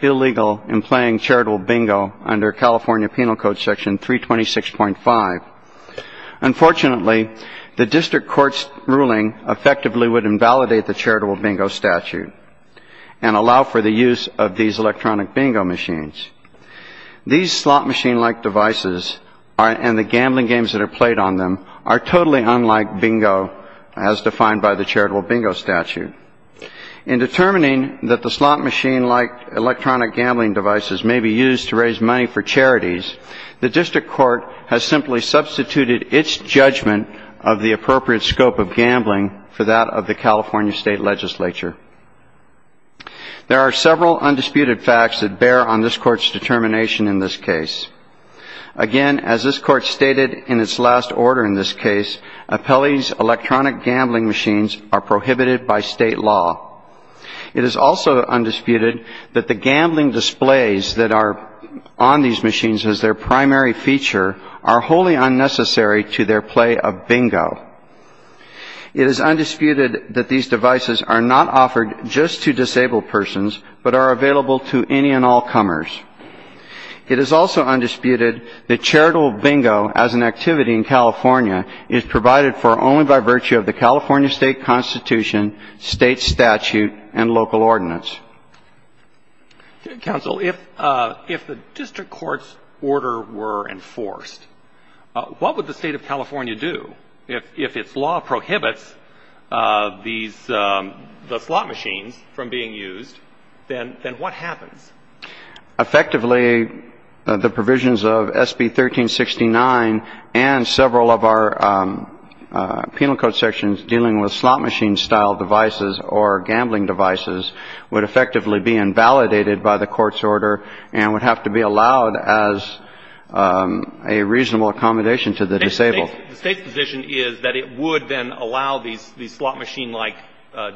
illegal in playing charitable bingo under California Penal Code Section 326.5. Unfortunately, the district court's ruling effectively would invalidate the charitable bingo statute and allow for the use of these electronic bingo machines. These slot machine-like devices and the gambling games that are played on them are totally unlike bingo as defined by the charitable bingo statute. In determining that the slot machine-like electronic gambling devices may be used to raise money for charities, the district court has simply substituted its judgment of the appropriate scope of gambling for that of the California state legislature. There are several undisputed facts that bear on this court's determination in this case. Again, as this court stated in its last order in this case, appellees' electronic gambling machines are prohibited by state law. It is also undisputed that the gambling displays that are on these machines as their primary feature are wholly unnecessary to their play of bingo. It is undisputed that these devices are not offered just to disabled persons but are available to any and all comers. It is also undisputed that charitable bingo as an activity in California is provided for only by virtue of the California state constitution, state statute, and local ordinance. Counsel, if the district court's order were enforced, what would the state of California do if its law prohibits the slot machines from being used? Then what happens? Effectively, the provisions of SB 1369 and several of our penal code sections dealing with slot machine-style devices or gambling devices would effectively be invalidated by the court's order and would have to be allowed as a reasonable accommodation to the disabled. The State's position is that it would then allow these slot machine-like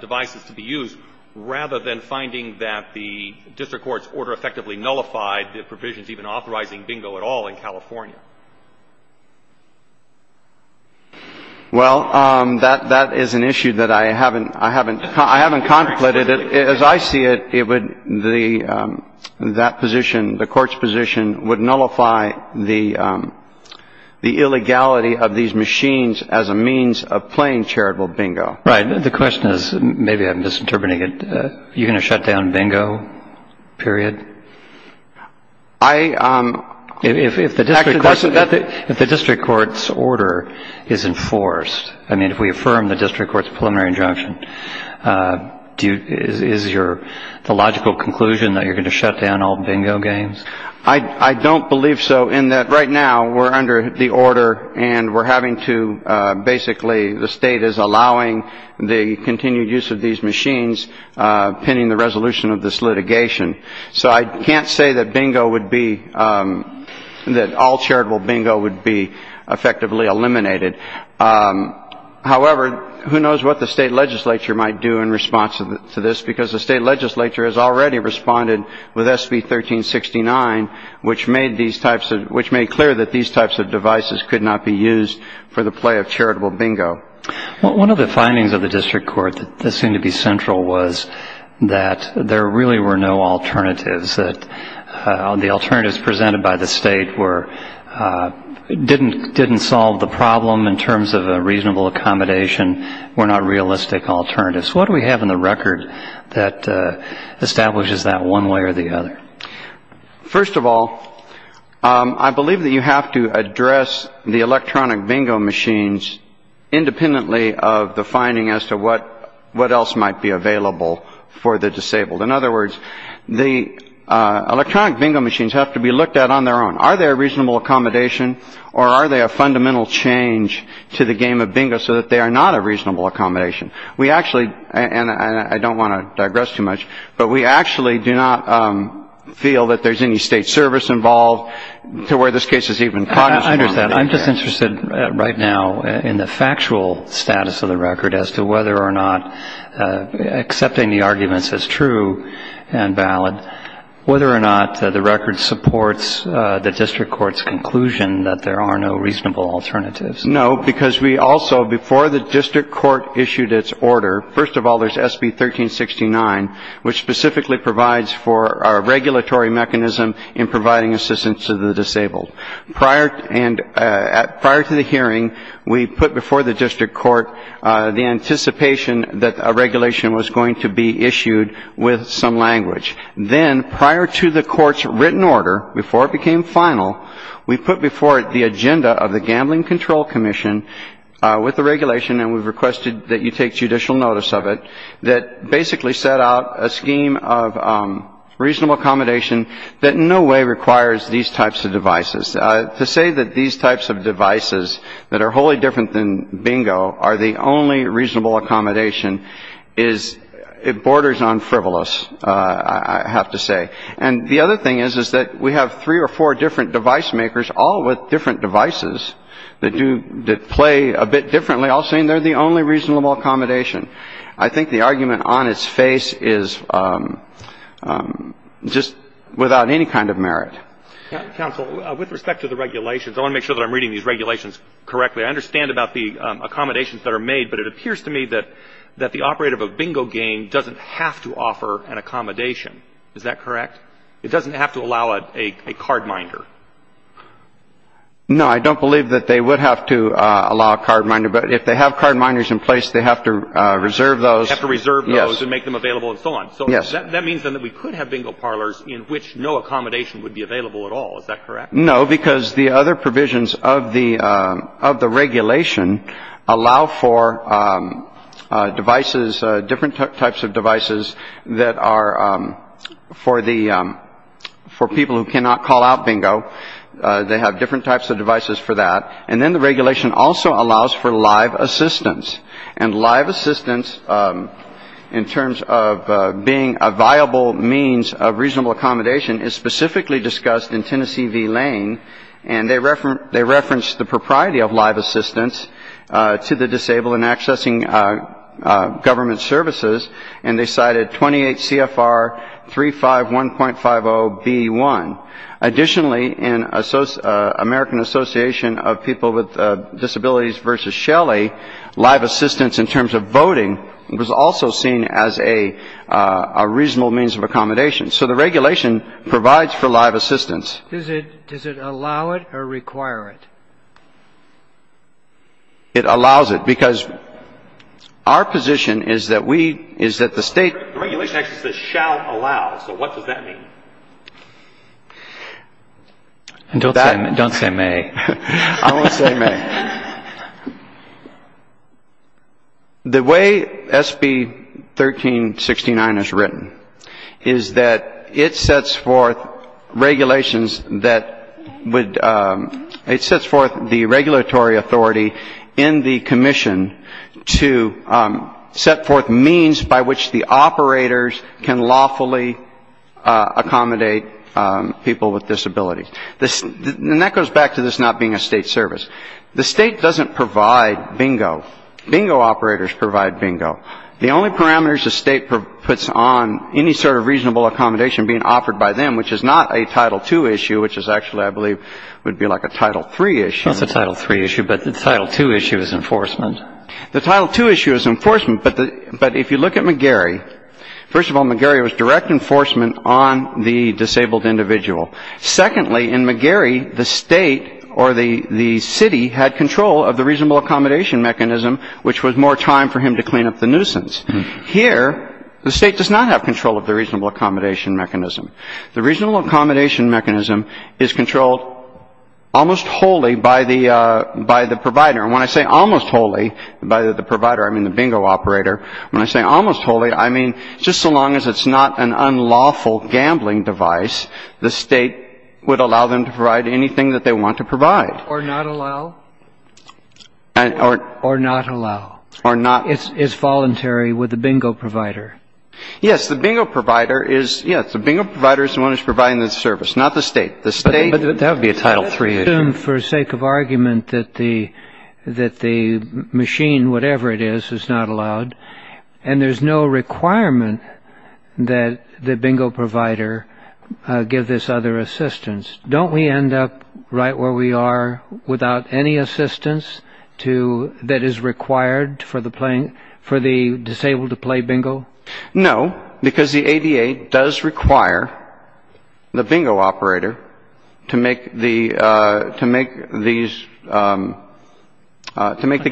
devices to be used rather than finding that the district court's order effectively nullified the provisions even authorizing bingo at all in California. Well, that is an issue that I haven't contemplated. As I see it, that position, the court's position, would nullify the illegality of these machines as a means of playing charitable bingo. Right. The question is, maybe I'm misinterpreting it, you're going to shut down bingo, period? If the district court's order is enforced, I mean, if we affirm the district court's preliminary injunction, is the logical conclusion that you're going to shut down all bingo games? I don't believe so in that right now we're under the order and we're having to basically the state is allowing the continued use of these machines pending the resolution of this litigation. So I can't say that bingo would be that all charitable bingo would be effectively eliminated. However, who knows what the state legislature might do in response to this, because the state legislature has already responded with SB 1369, which made clear that these types of devices could not be used for the play of charitable bingo. One of the findings of the district court that seemed to be central was that there really were no alternatives, that the alternatives presented by the state didn't solve the problem in terms of a reasonable accommodation, were not realistic alternatives. What do we have in the record that establishes that one way or the other? First of all, I believe that you have to address the electronic bingo machines independently of the finding as to what else might be available for the disabled. In other words, the electronic bingo machines have to be looked at on their own. Are they a reasonable accommodation or are they a fundamental change to the game of bingo so that they are not a reasonable accommodation? We actually, and I don't want to digress too much, but we actually do not feel that there's any state service involved to where this case has even come. I understand. I'm just interested right now in the factual status of the record as to whether or not accepting the arguments as true and valid, whether or not the record supports the district court's conclusion that there are no reasonable alternatives. No, because we also, before the district court issued its order, first of all, there's SB 1369, which specifically provides for a regulatory mechanism in providing assistance to the disabled. Prior to the hearing, we put before the district court the anticipation that a regulation was going to be issued with some language. Then prior to the court's written order, before it became final, we put before it the agenda of the Gambling Control Commission with the regulation, and we've requested that you take judicial notice of it, that basically set out a scheme of reasonable accommodation that in no way requires these types of devices. To say that these types of devices that are wholly different than bingo are the only reasonable accommodation is it borders on frivolous. I have to say. And the other thing is, is that we have three or four different device makers, all with different devices that do play a bit differently, all saying they're the only reasonable accommodation. I think the argument on its face is just without any kind of merit. Counsel, with respect to the regulations, I want to make sure that I'm reading these regulations correctly. I understand about the accommodations that are made, but it appears to me that the operator of a bingo game doesn't have to offer an accommodation. Is that correct? It doesn't have to allow a cardminder. No, I don't believe that they would have to allow a cardminder, but if they have cardminders in place, they have to reserve those. Have to reserve those and make them available and so on. Yes. So that means then that we could have bingo parlors in which no accommodation would be available at all. Is that correct? No, because the other provisions of the of the regulation allow for devices, different types of devices that are for the for people who cannot call out bingo. They have different types of devices for that. And then the regulation also allows for live assistance and live assistance. In terms of being a viable means of reasonable accommodation is specifically discussed in Tennessee V Lane. And they refer they reference the propriety of live assistance to the disabled and accessing government services. And they cited 28 CFR three five one point five oh B one. Additionally, in American Association of People with Disabilities versus Shelley, live assistance in terms of voting was also seen as a reasonable means of accommodation. So the regulation provides for live assistance. Does it does it allow it or require it? It allows it because our position is that we is that the state regulation actually says shall allow. So what does that mean? And don't don't say me. I want to say the way SB 13 69 is written is that it sets forth regulations that would it sets forth the regulatory authority in the commission to set forth means by which the operators can lawfully. Accommodate people with disabilities. This goes back to this not being a state service. The state doesn't provide bingo. Bingo operators provide bingo. The only parameters the state puts on any sort of reasonable accommodation being offered by them, which is not a title two issue, which is actually I believe would be like a title three issue. It's a title three issue. But the title two issue is enforcement. The title two issue is enforcement. But but if you look at McGarry, first of all, McGarry was direct enforcement on the disabled individual. Secondly, in McGarry, the state or the the city had control of the reasonable accommodation mechanism, which was more time for him to clean up the nuisance here. The state does not have control of the reasonable accommodation mechanism. The reasonable accommodation mechanism is controlled almost wholly by the by the provider. And when I say almost wholly by the provider, I mean the bingo operator. When I say almost wholly, I mean just so long as it's not an unlawful gambling device, the state would allow them to provide anything that they want to provide. Or not allow. Or not allow. Or not. It's voluntary with the bingo provider. Yes. The bingo provider is, yes, the bingo provider is the one who's providing the service, not the state. The state. That would be a title three issue. I assume for sake of argument that the machine, whatever it is, is not allowed, and there's no requirement that the bingo provider give this other assistance. Don't we end up right where we are without any assistance that is required for the disabled to play bingo? No, because the ADA does require the bingo operator to make the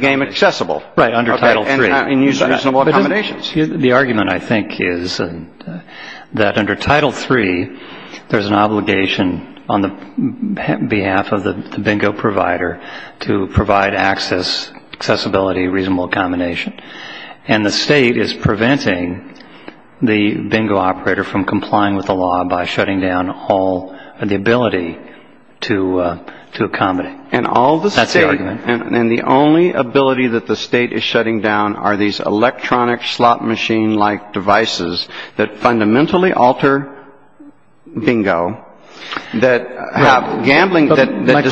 game accessible. Right, under title three. And use reasonable accommodations. The argument, I think, is that under title three, there's an obligation on the behalf of the bingo provider to provide access, accessibility, reasonable accommodation. And the state is preventing the bingo operator from complying with the law by shutting down all the ability to accommodate. That's the argument. And the only ability that the state is shutting down are these electronic slot machine-like devices that fundamentally alter bingo. Right. My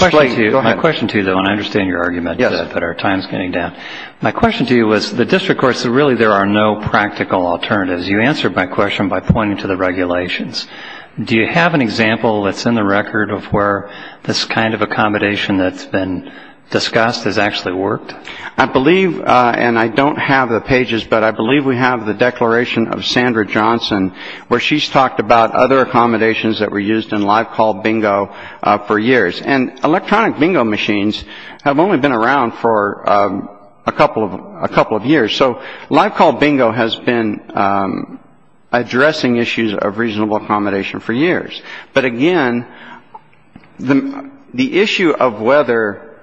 question to you, though, and I understand your argument that our time is getting down. Yes. My question to you was, the district courts, really there are no practical alternatives. You answered my question by pointing to the regulations. Do you have an example that's in the record of where this kind of accommodation that's been discussed has actually worked? I believe, and I don't have the pages, but I believe we have the declaration of Sandra Johnson, where she's talked about other accommodations that were used in live call bingo for years. And electronic bingo machines have only been around for a couple of years. So live call bingo has been addressing issues of reasonable accommodation for years. But, again, the issue of whether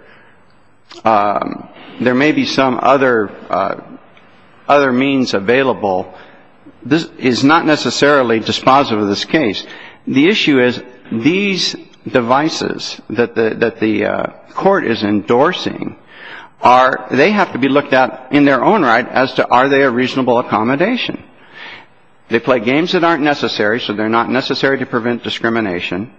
there may be some other means available is not necessarily dispositive of this case. The issue is these devices that the court is endorsing are they have to be looked at in their own right as to are they a reasonable accommodation. They play games that aren't necessary. So they're not necessary to prevent discrimination.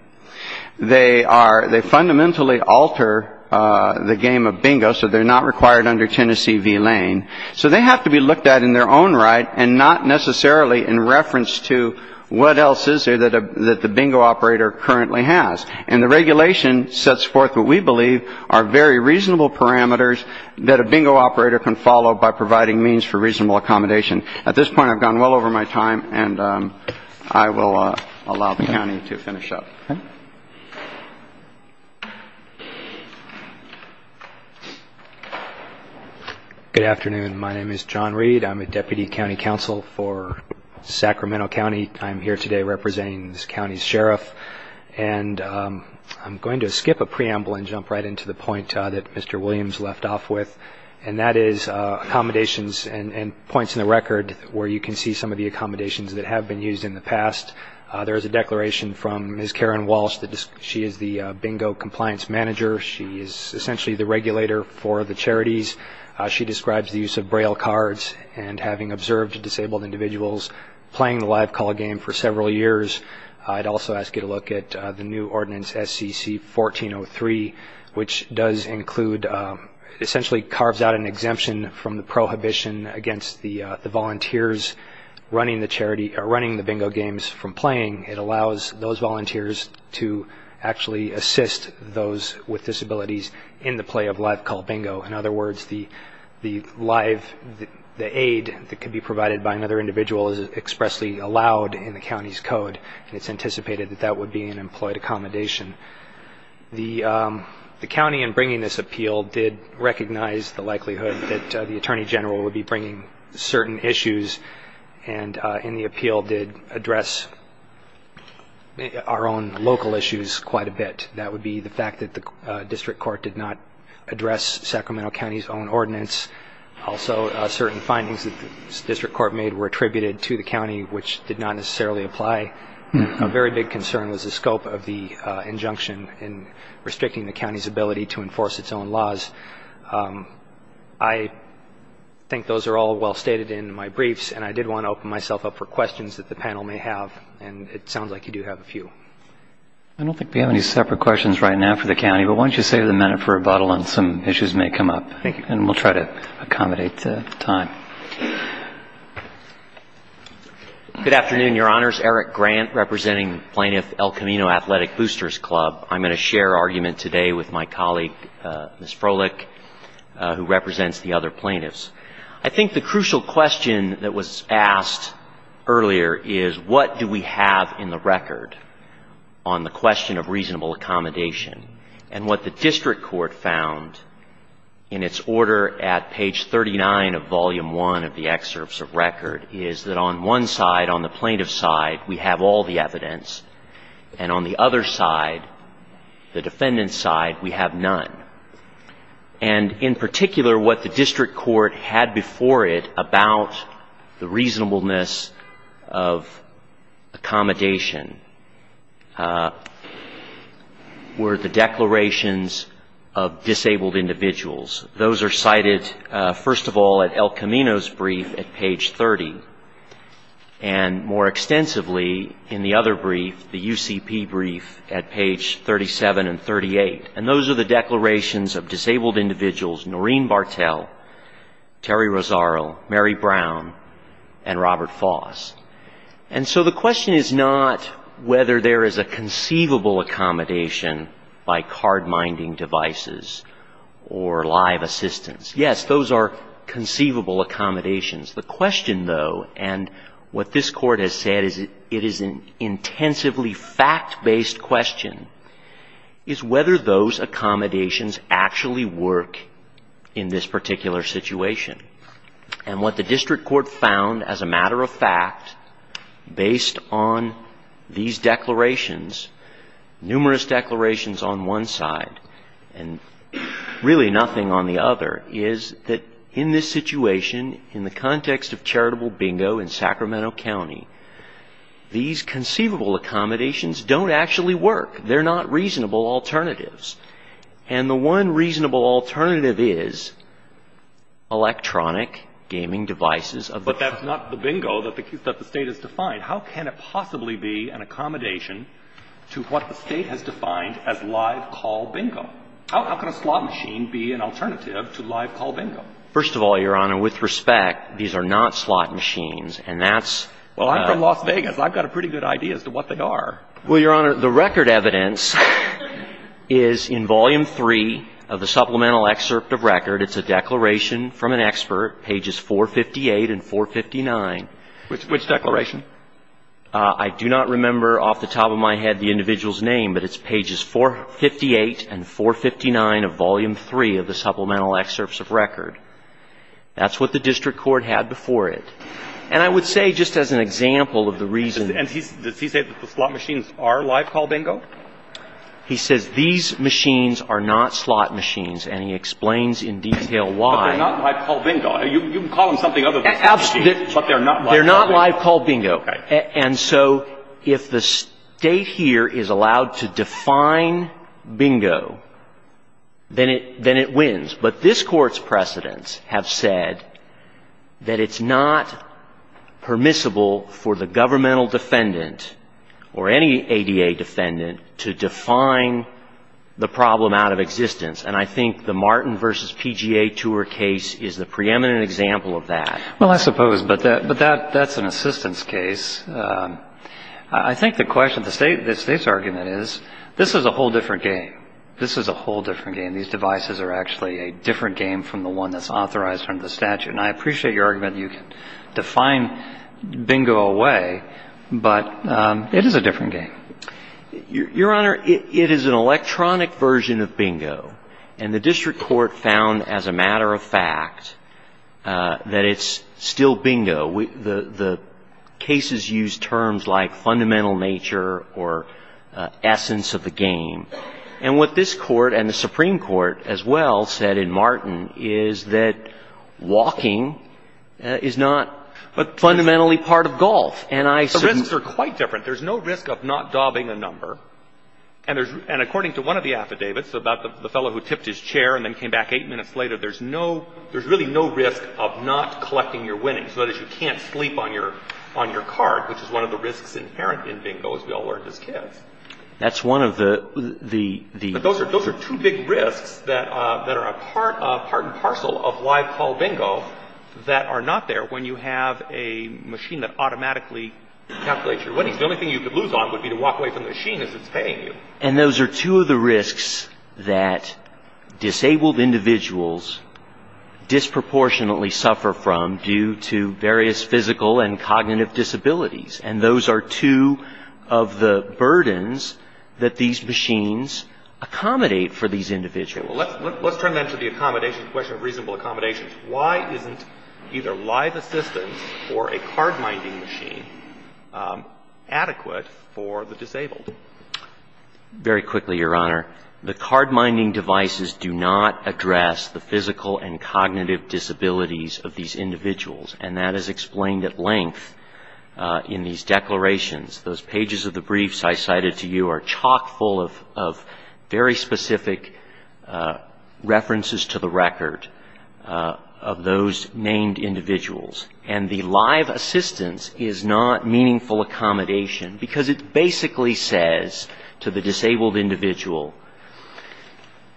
They are they fundamentally alter the game of bingo. So they're not required under Tennessee v. Lane. So they have to be looked at in their own right and not necessarily in reference to what else is there that the bingo operator currently has. And the regulation sets forth what we believe are very reasonable parameters that a bingo operator can follow by providing means for reasonable accommodation. At this point, I've gone well over my time, and I will allow the county to finish up. Okay. Good afternoon. My name is John Reed. I'm a deputy county counsel for Sacramento County. I'm here today representing this county's sheriff. And I'm going to skip a preamble and jump right into the point that Mr. Williams left off with, and that is accommodations and points in the record where you can see some of the accommodations that have been used in the past. There is a declaration from Ms. Karen Walsh. She is the bingo compliance manager. She is essentially the regulator for the charities. She describes the use of Braille cards and having observed disabled individuals playing the live call game for several years. I'd also ask you to look at the new ordinance, SEC 1403, which does include essentially carves out an exemption from the prohibition against the volunteers running the charity or running the bingo games from playing. It allows those volunteers to actually assist those with disabilities in the play of live call bingo. In other words, the aid that could be provided by another individual is expressly allowed in the county's code, and it's anticipated that that would be an employed accommodation. The county in bringing this appeal did recognize the likelihood that the attorney general would be bringing certain issues, and in the appeal did address our own local issues quite a bit. That would be the fact that the district court did not address Sacramento County's own ordinance. Also, certain findings that the district court made were attributed to the county, which did not necessarily apply. A very big concern was the scope of the injunction in restricting the county's ability to enforce its own laws. I think those are all well stated in my briefs, and I did want to open myself up for questions that the panel may have, and it sounds like you do have a few. I don't think we have any separate questions right now for the county, but why don't you save the minute for rebuttal and some issues may come up, and we'll try to accommodate the time. Good afternoon, Your Honors. Eric Grant, representing Plaintiff El Camino Athletic Boosters Club. I'm going to share argument today with my colleague, Ms. Froelich, who represents the other plaintiffs. I think the crucial question that was asked earlier is what do we have in the record on the question of reasonable accommodation, and what the district court found in its order at page 39 of Volume 1 of the excerpts of record is that on one side, on the plaintiff's side, we have all the evidence, and on the other side, the defendant's side, we have none. And in particular, what the district court had before it about the reasonableness of accommodation were the declarations of disabled individuals. Those are cited, first of all, at El Camino's brief at page 30, and more extensively in the other brief, the UCP brief at page 37 and 38, and those are the declarations of disabled individuals Noreen Bartel, Terry Rosaro, Mary Brown, and Robert Foss. And so the question is not whether there is a conceivable accommodation by card-minding devices or live assistance. Yes, those are conceivable accommodations. The question, though, and what this court has said is it is an intensively fact-based question, is whether those accommodations actually work in this particular situation. And what the district court found, as a matter of fact, based on these declarations, numerous declarations on one side, and really nothing on the other, is that in this situation, in the context of charitable bingo in Sacramento County, these conceivable accommodations don't actually work. They're not reasonable alternatives. And the one reasonable alternative is electronic gaming devices of the phone. But that's not the bingo that the State has defined. How can it possibly be an accommodation to what the State has defined as live call bingo? How can a slot machine be an alternative to live call bingo? First of all, Your Honor, with respect, these are not slot machines, and that's the — Well, I'm from Las Vegas. I've got a pretty good idea as to what they are. Well, Your Honor, the record evidence is in Volume 3 of the supplemental excerpt of record. It's a declaration from an expert, pages 458 and 459. Which declaration? I do not remember off the top of my head the individual's name, but it's pages 458 and 459 of Volume 3 of the supplemental excerpts of record. That's what the district court had before it. And I would say, just as an example of the reason — And does he say that the slot machines are live call bingo? He says these machines are not slot machines, and he explains in detail why. But they're not live call bingo. They're not live call bingo. Okay. And so if the State here is allowed to define bingo, then it wins. But this Court's precedents have said that it's not permissible for the governmental defendant or any ADA defendant to define the problem out of existence. And I think the Martin v. PGA Tour case is the preeminent example of that. Well, I suppose. But that's an assistance case. I think the question — the State's argument is this is a whole different game. This is a whole different game. These devices are actually a different game from the one that's authorized under the statute. And I appreciate your argument that you can define bingo away, but it is a different game. Your Honor, it is an electronic version of bingo. And the district court found, as a matter of fact, that it's still bingo. The cases use terms like fundamental nature or essence of the game. And what this Court and the Supreme Court as well said in Martin is that walking is not fundamentally part of golf. And I — The risks are quite different. And there's — and according to one of the affidavits about the fellow who tipped his chair and then came back eight minutes later, there's no — there's really no risk of not collecting your winnings. That is, you can't sleep on your card, which is one of the risks inherent in bingo, as we all learned as kids. That's one of the — But those are two big risks that are a part and parcel of live call bingo that are not there when you have a machine that automatically calculates your winnings. The only thing you could lose on would be to walk away from the machine as it's paying you. And those are two of the risks that disabled individuals disproportionately suffer from due to various physical and cognitive disabilities. And those are two of the burdens that these machines accommodate for these individuals. Let's turn then to the accommodation question of reasonable accommodations. Why isn't either live assistance or a card-minding machine adequate for the disabled? Very quickly, Your Honor. The card-minding devices do not address the physical and cognitive disabilities of these individuals. And that is explained at length in these declarations. Those pages of the briefs I cited to you are chock full of very specific references to the record. And they do not address the physical and cognitive disabilities of those named individuals. And the live assistance is not meaningful accommodation because it basically says to the disabled individual,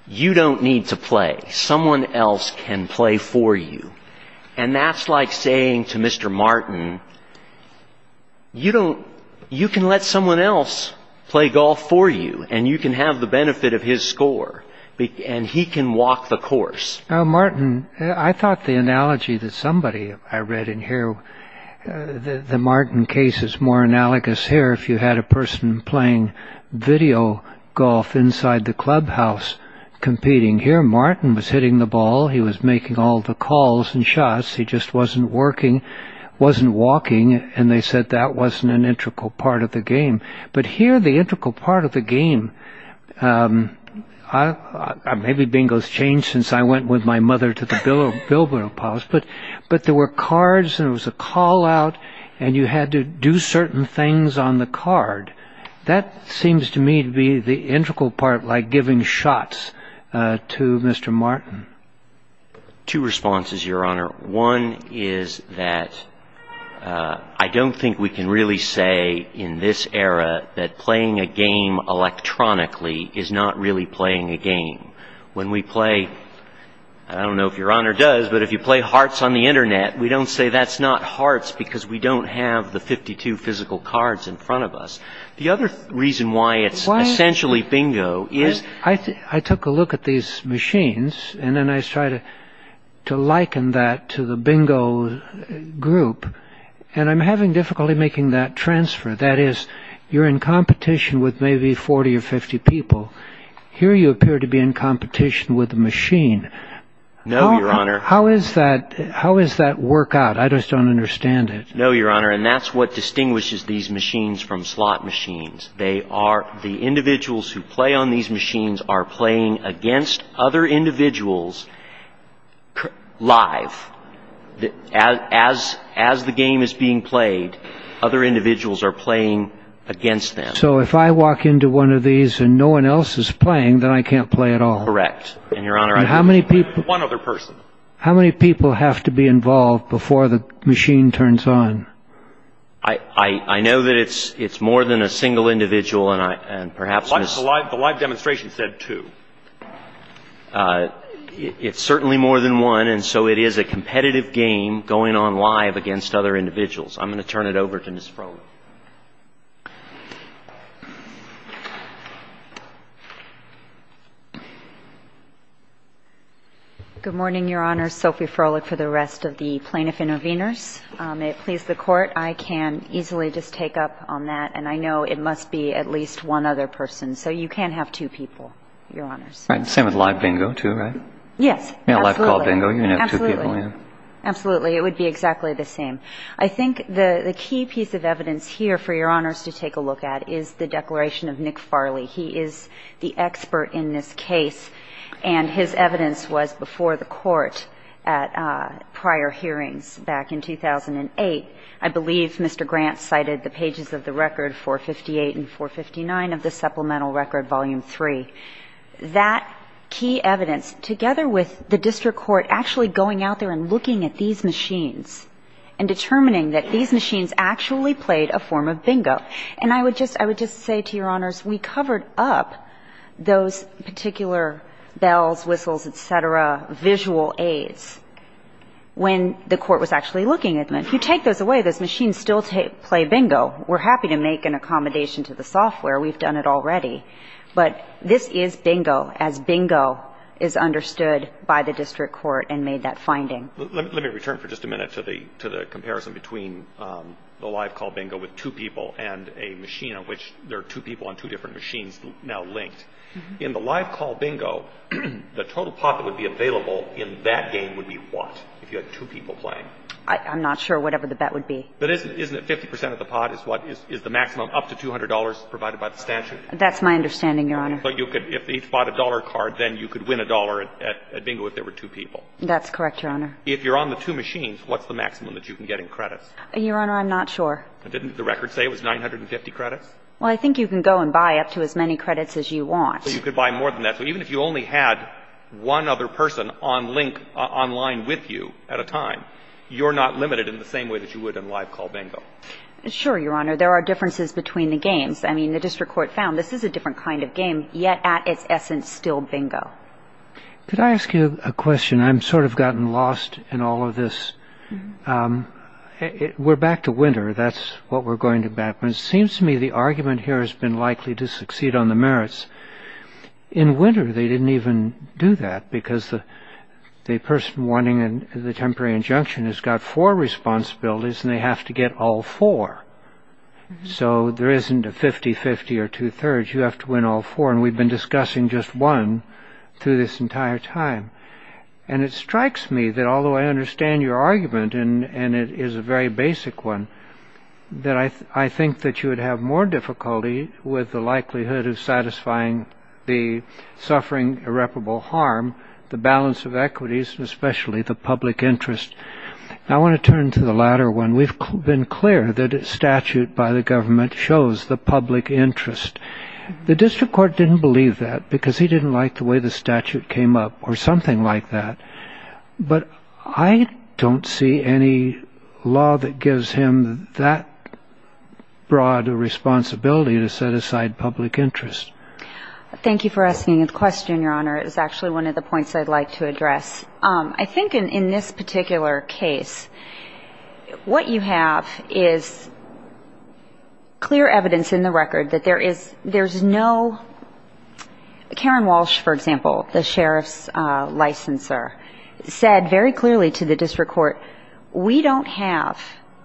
you don't need to play. Someone else can play for you. And that's like saying to Mr. Martin, you can let someone else play golf for you and you can have the benefit of his score. And he can walk the course. Now, Martin, I thought the analogy that somebody I read in here, the Martin case is more analogous here. If you had a person playing video golf inside the clubhouse competing here, Martin was hitting the ball. He was making all the calls and shots. He just wasn't working, wasn't walking. And they said that wasn't an integral part of the game. But here, the integral part of the game, maybe bingo's changed since I went with my mother to the Bilbo Palace, but there were cards and it was a call out and you had to do certain things on the card. That seems to me to be the integral part, like giving shots to Mr. Martin. Two responses, Your Honor. One is that I don't think we can really say in this era that playing a game electronically is not really playing a game. When we play, I don't know if Your Honor does, but if you play hearts on the Internet, we don't say that's not hearts because we don't have the 52 physical cards in front of us. The other reason why it's essentially bingo is... I took a look at these machines and then I tried to liken that to the bingo group. And I'm having difficulty making that transfer. That is, you're in competition with maybe 40 or 50 people. Here you appear to be in competition with a machine. No, Your Honor. How does that work out? I just don't understand it. No, Your Honor, and that's what distinguishes these machines from slot machines. The individuals who play on these machines are playing against other individuals live. As the game is being played, other individuals are playing against them. So if I walk into one of these and no one else is playing, then I can't play at all? Correct, Your Honor. How many people have to be involved before the machine turns on? I know that it's more than a single individual and perhaps... The live demonstration said two. It's certainly more than one, and so it is a competitive game going on live against other individuals. I'm going to turn it over to Ms. Frohlich. Good morning, Your Honor. Sophie Frohlich for the rest of the plaintiff interveners. May it please the Court. I can easily just take up on that, and I know it must be at least one other person. So you can't have two people, Your Honors. Same with live bingo, too, right? Yes, absolutely. Live call bingo, you can have two people. Absolutely. It would be exactly the same. I think the key piece of evidence here for Your Honors to take a look at is the declaration of Nick Farley. He is the expert in this case, and his evidence was before the Court at prior hearings back in 2008. I believe Mr. Grant cited the pages of the record 458 and 459 of the supplemental record volume 3. That key evidence, together with the district court actually going out there and looking at these machines and determining that these machines actually played a form of bingo. And I would just say to Your Honors, we covered up those particular bells, whistles, et cetera, visual aids when the Court was actually looking at them. If you take those away, those machines still play bingo. We're happy to make an accommodation to the software. We've done it already. But this is bingo as bingo is understood by the district court and made that finding. Let me return for just a minute to the comparison between the live call bingo with two people and a machine on which there are two people on two different machines now linked. In the live call bingo, the total pot that would be available in that game would be what if you had two people playing? I'm not sure whatever the bet would be. But isn't it 50 percent of the pot is what is the maximum up to $200 provided by the statute? That's my understanding, Your Honor. But you could, if each bought a dollar card, then you could win a dollar at bingo if there were two people. That's correct, Your Honor. If you're on the two machines, what's the maximum that you can get in credits? Your Honor, I'm not sure. Didn't the record say it was 950 credits? Well, I think you can go and buy up to as many credits as you want. So you could buy more than that. So even if you only had one other person on link online with you at a time, you're not limited in the same way that you would in live call bingo. Sure, Your Honor. There are differences between the games. I mean, the district court found this is a different kind of game, yet at its essence still bingo. Could I ask you a question? I've sort of gotten lost in all of this. We're back to winter. That's what we're going to back. But it seems to me the argument here has been likely to succeed on the merits. In winter, they didn't even do that because the person wanting the temporary injunction has got four responsibilities, and they have to get all four. So there isn't a 50-50 or two-thirds. You have to win all four. And we've been discussing just one through this entire time. And it strikes me that although I understand your argument, and it is a very basic one, that I think that you would have more difficulty with the likelihood of satisfying the suffering irreparable harm, the balance of equities, and especially the public interest. I want to turn to the latter one. We've been clear that a statute by the government shows the public interest. The district court didn't believe that because he didn't like the way the statute came up or something like that. But I don't see any law that gives him that broad a responsibility to set aside public interest. Thank you for asking the question, Your Honor. It is actually one of the points I'd like to address. I think in this particular case, what you have is clear evidence in the record that there is no ñ Karen Walsh, for example, the sheriff's licensor, said very clearly to the district court, we don't have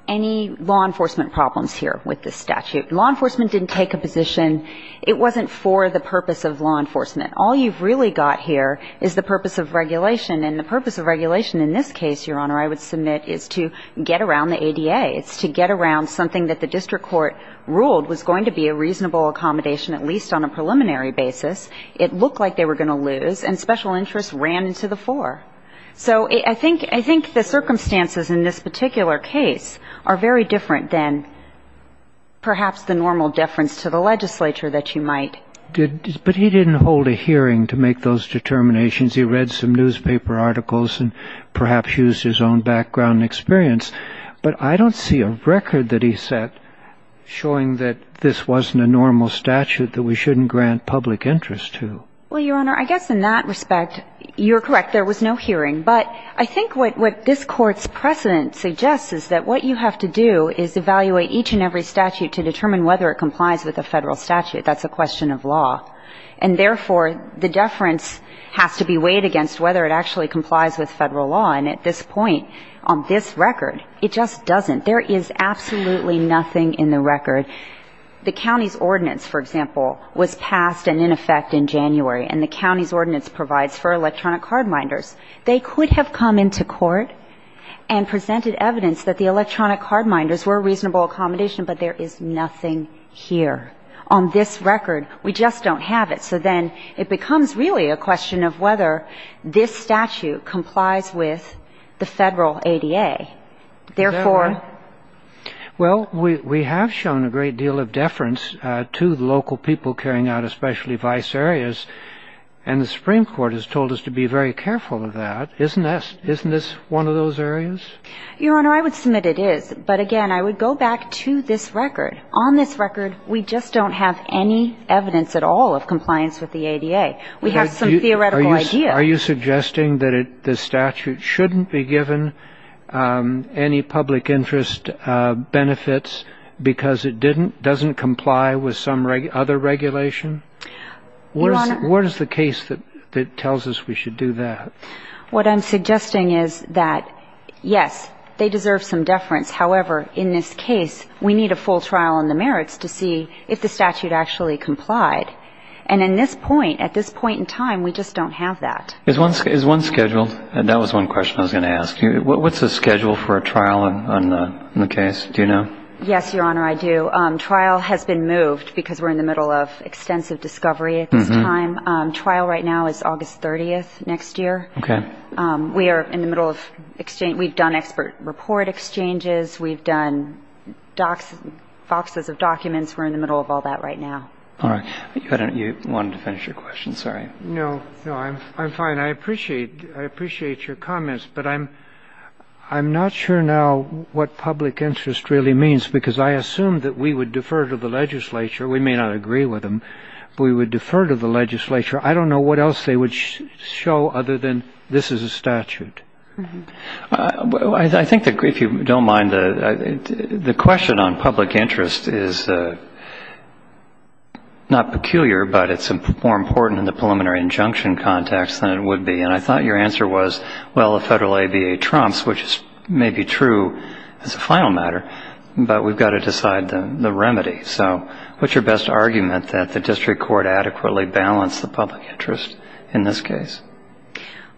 any law enforcement problems here with this statute. Law enforcement didn't take a position. It wasn't for the purpose of law enforcement. All you've really got here is the purpose of regulation, and the purpose of regulation in this case, Your Honor, I would submit is to get around the ADA. It's to get around something that the district court ruled was going to be a reasonable accommodation, at least on a preliminary basis. It looked like they were going to lose, and special interests ran into the fore. So I think the circumstances in this particular case are very different than perhaps the normal deference to the legislature that you might ñ But he didn't hold a hearing to make those determinations. He read some newspaper articles and perhaps used his own background and experience. But I don't see a record that he set showing that this wasn't a normal statute that we shouldn't grant public interest to. Well, Your Honor, I guess in that respect, you're correct. There was no hearing. But I think what this Court's precedent suggests is that what you have to do is evaluate each and every statute to determine whether it complies with a federal statute. That's a question of law. And therefore, the deference has to be weighed against whether it actually complies with federal law. And at this point, on this record, it just doesn't. There is absolutely nothing in the record. The county's ordinance, for example, was passed and in effect in January. And the county's ordinance provides for electronic cardminders. They could have come into court and presented evidence that the electronic cardminders were a reasonable accommodation, but there is nothing here. On this record, we just don't have it. So then it becomes really a question of whether this statute complies with the federal ADA. Therefore — Is there one? Well, we have shown a great deal of deference to the local people carrying out especially vice areas. And the Supreme Court has told us to be very careful of that. Isn't this one of those areas? Your Honor, I would submit it is. But, again, I would go back to this record. On this record, we just don't have any evidence at all of compliance with the ADA. We have some theoretical ideas. Are you suggesting that the statute shouldn't be given any public interest benefits because it doesn't comply with some other regulation? Your Honor — What is the case that tells us we should do that? What I'm suggesting is that, yes, they deserve some deference. However, in this case, we need a full trial on the merits to see if the statute actually complied. And at this point in time, we just don't have that. Is one scheduled? That was one question I was going to ask you. What's the schedule for a trial on the case? Do you know? Yes, Your Honor, I do. Trial has been moved because we're in the middle of extensive discovery at this time. Trial right now is August 30th next year. Okay. We are in the middle of — we've done expert report exchanges. We've done boxes of documents. We're in the middle of all that right now. All right. You wanted to finish your question. Sorry. No. No, I'm fine. I appreciate your comments. But I'm not sure now what public interest really means because I assume that we would defer to the legislature. We may not agree with them, but we would defer to the legislature. I don't know what else they would show other than this is a statute. I think, if you don't mind, the question on public interest is not peculiar, but it's more important in the preliminary injunction context than it would be. And I thought your answer was, well, the federal ABA trumps, which may be true as a final matter, but we've got to decide the remedy. So what's your best argument that the district court adequately balanced the public interest in this case?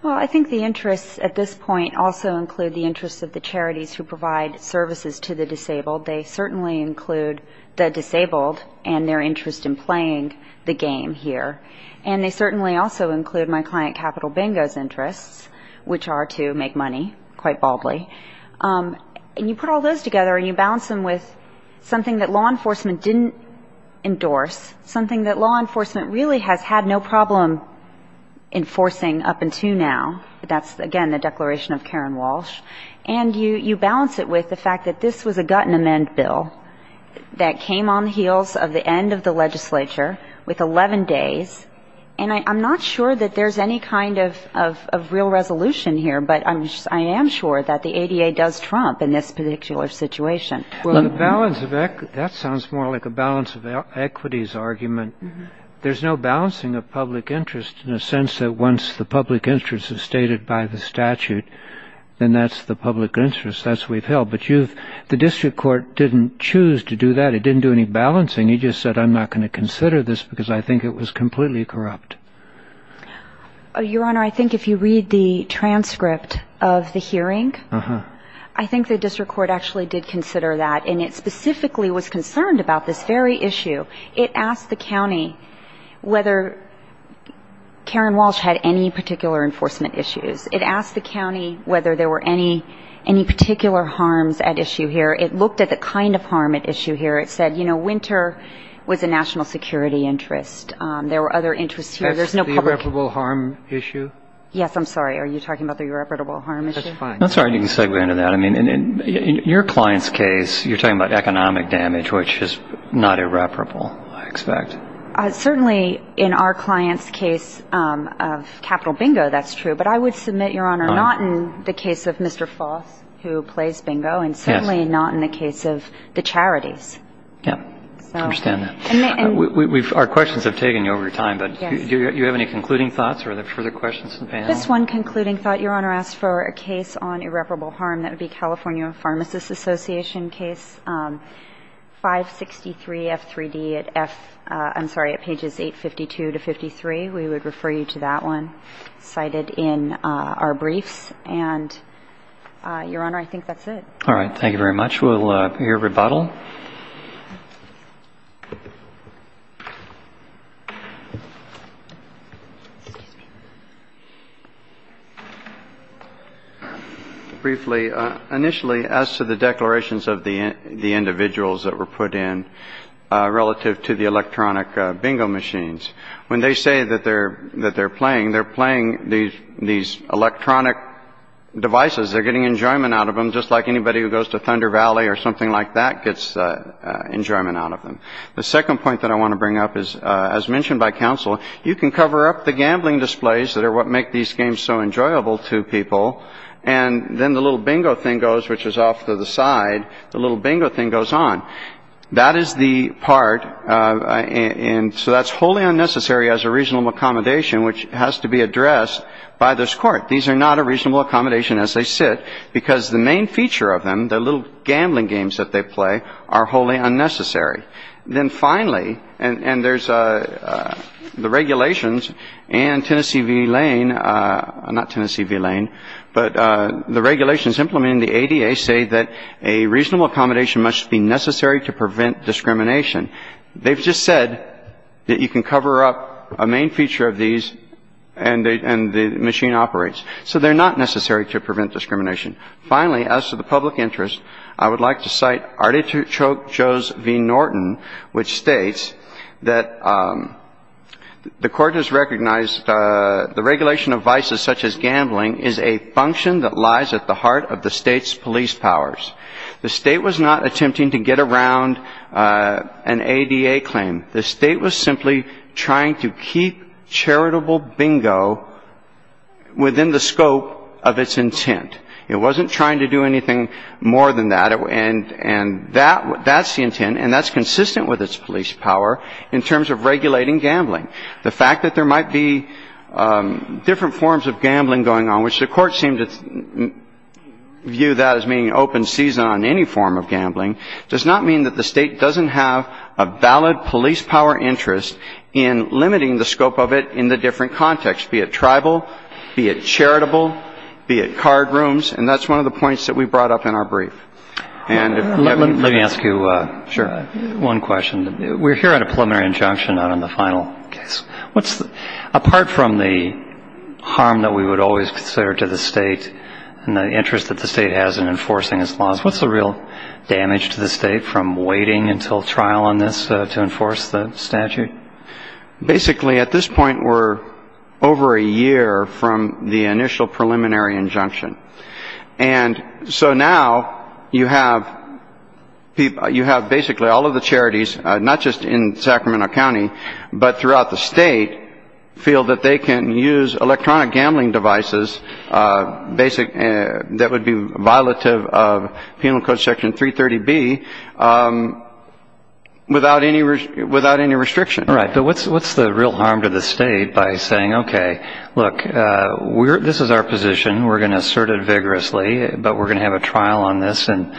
Well, I think the interests at this point also include the interests of the charities who provide services to the disabled. They certainly include the disabled and their interest in playing the game here. And they certainly also include my client Capital Bingo's interests, which are to make money, quite baldly. And you put all those together and you balance them with something that law enforcement didn't endorse, something that law enforcement really has had no problem enforcing up until now. That's, again, the declaration of Karen Walsh. And you balance it with the fact that this was a gut and amend bill that came on the heels of the end of the legislature with 11 days. And I'm not sure that there's any kind of real resolution here, but I am sure that the ADA does trump in this particular situation. Well, the balance of equity, that sounds more like a balance of equities argument. There's no balancing of public interest in the sense that once the public interest is stated by the statute, then that's the public interest. That's what we've held. But you've, the district court didn't choose to do that. It didn't do any balancing. It just said, I'm not going to consider this because I think it was completely corrupt. Your Honor, I think if you read the transcript of the hearing, I think the district court actually did consider that, and it specifically was concerned about this very issue. It asked the county whether Karen Walsh had any particular enforcement issues. It asked the county whether there were any particular harms at issue here. It looked at the kind of harm at issue here. It said, you know, winter was a national security interest. There were other interests here. There's no public. The irreparable harm issue? Yes. I'm sorry. Are you talking about the irreparable harm issue? That's fine. I'm sorry. You can segue into that. I mean, in your client's case, you're talking about economic damage, which is not irreparable, I expect. Certainly in our client's case of capital bingo, that's true. But I would submit, Your Honor, not in the case of Mr. Foss, who plays bingo, and certainly not in the case of the charities. Yeah. I understand that. Our questions have taken you over time. But do you have any concluding thoughts or further questions for the panel? Just one concluding thought, Your Honor. I asked for a case on irreparable harm. That would be California Pharmacists Association case 563F3D at F- I'm sorry, at pages 852 to 53. We would refer you to that one cited in our briefs. And, Your Honor, I think that's it. All right. Thank you very much. We'll hear rebuttal. Briefly, initially, as to the declarations of the individuals that were put in relative to the electronic bingo machines, when they say that they're playing, they're playing these electronic devices. They're getting enjoyment out of them, just like anybody who goes to Thunder Valley or something like that gets enjoyment out of them. The second point that I want to bring up is, as mentioned by counsel, you can cover up the gambling displays that are what make these games so enjoyable to people, and then the little bingo thing goes, which is off to the side. The little bingo thing goes on. That is the part, and so that's wholly unnecessary as a reasonable accommodation, which has to be addressed by this court. These are not a reasonable accommodation as they sit because the main feature of them, the little gambling games that they play, are wholly unnecessary. Then finally, and there's the regulations and Tennessee v. Lane, not Tennessee v. Lane, but the regulations implemented in the ADA say that a reasonable accommodation must be necessary to prevent discrimination. They've just said that you can cover up a main feature of these and the machine operates. So they're not necessary to prevent discrimination. Finally, as to the public interest, I would like to cite Artichoke v. Norton, which states that the court has recognized the regulation of vices such as gambling is a function that lies at the heart of the state's police powers. The state was not attempting to get around an ADA claim. The state was simply trying to keep charitable bingo within the scope of its intent. It wasn't trying to do anything more than that, and that's the intent, and that's consistent with its police power in terms of regulating gambling. The fact that there might be different forms of gambling going on, which the court seemed to view that as being open season on any form of gambling, does not mean that the state doesn't have a valid police power interest in limiting the scope of it in the different contexts, be it tribal, be it charitable, be it card rooms, and that's one of the points that we brought up in our brief. Let me ask you one question. We're here on a preliminary injunction, not on the final case. Apart from the harm that we would always consider to the state and the interest that the state has in enforcing its laws, what's the real damage to the state from waiting until trial on this to enforce the statute? Basically, at this point, we're over a year from the initial preliminary injunction. And so now you have basically all of the charities, not just in Sacramento County, but throughout the state, feel that they can use electronic gambling devices that would be violative of Penal Code Section 330B without any restriction. Right. But what's the real harm to the state by saying, okay, look, this is our position. We're going to assert it vigorously, but we're going to have a trial on this in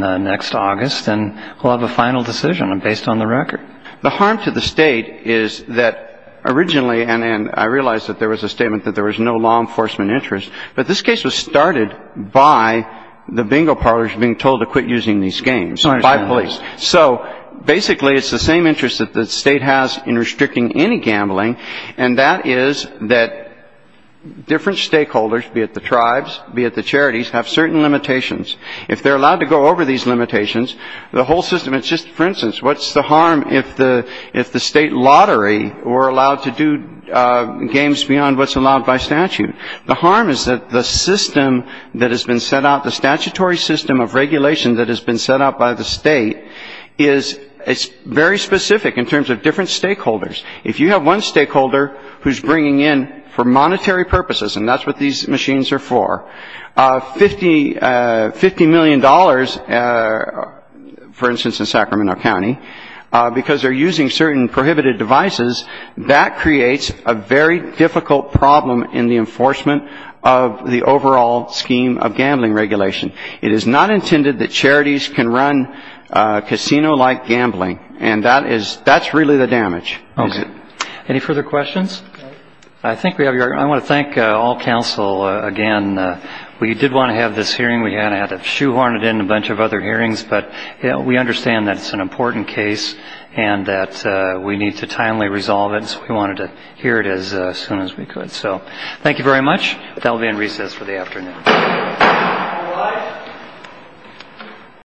next August, and we'll have a final decision based on the record. The harm to the state is that originally, and I realize that there was a statement that there was no law enforcement interest, but this case was started by the bingo parlors being told to quit using these games by police. So basically, it's the same interest that the state has in restricting any gambling, and that is that different stakeholders, be it the tribes, be it the charities, have certain limitations. If they're allowed to go over these limitations, the whole system, it's just, for instance, what's the harm if the state lottery were allowed to do games beyond what's allowed by statute? The harm is that the system that has been set out, the statutory system of regulation that has been set out by the state, is very specific in terms of different stakeholders. If you have one stakeholder who's bringing in, for monetary purposes, and that's what these machines are for, $50 million, for instance, in Sacramento County, because they're using certain prohibited devices, that creates a very difficult problem in the enforcement of the overall scheme of gambling regulation. It is not intended that charities can run casino-like gambling, and that's really the damage. Any further questions? I want to thank all counsel again. We did want to have this hearing. We kind of had to shoehorn it into a bunch of other hearings, but we understand that it's an important case and that we need to timely resolve it, so we wanted to hear it as soon as we could. Thank you very much. That will be in recess for the afternoon.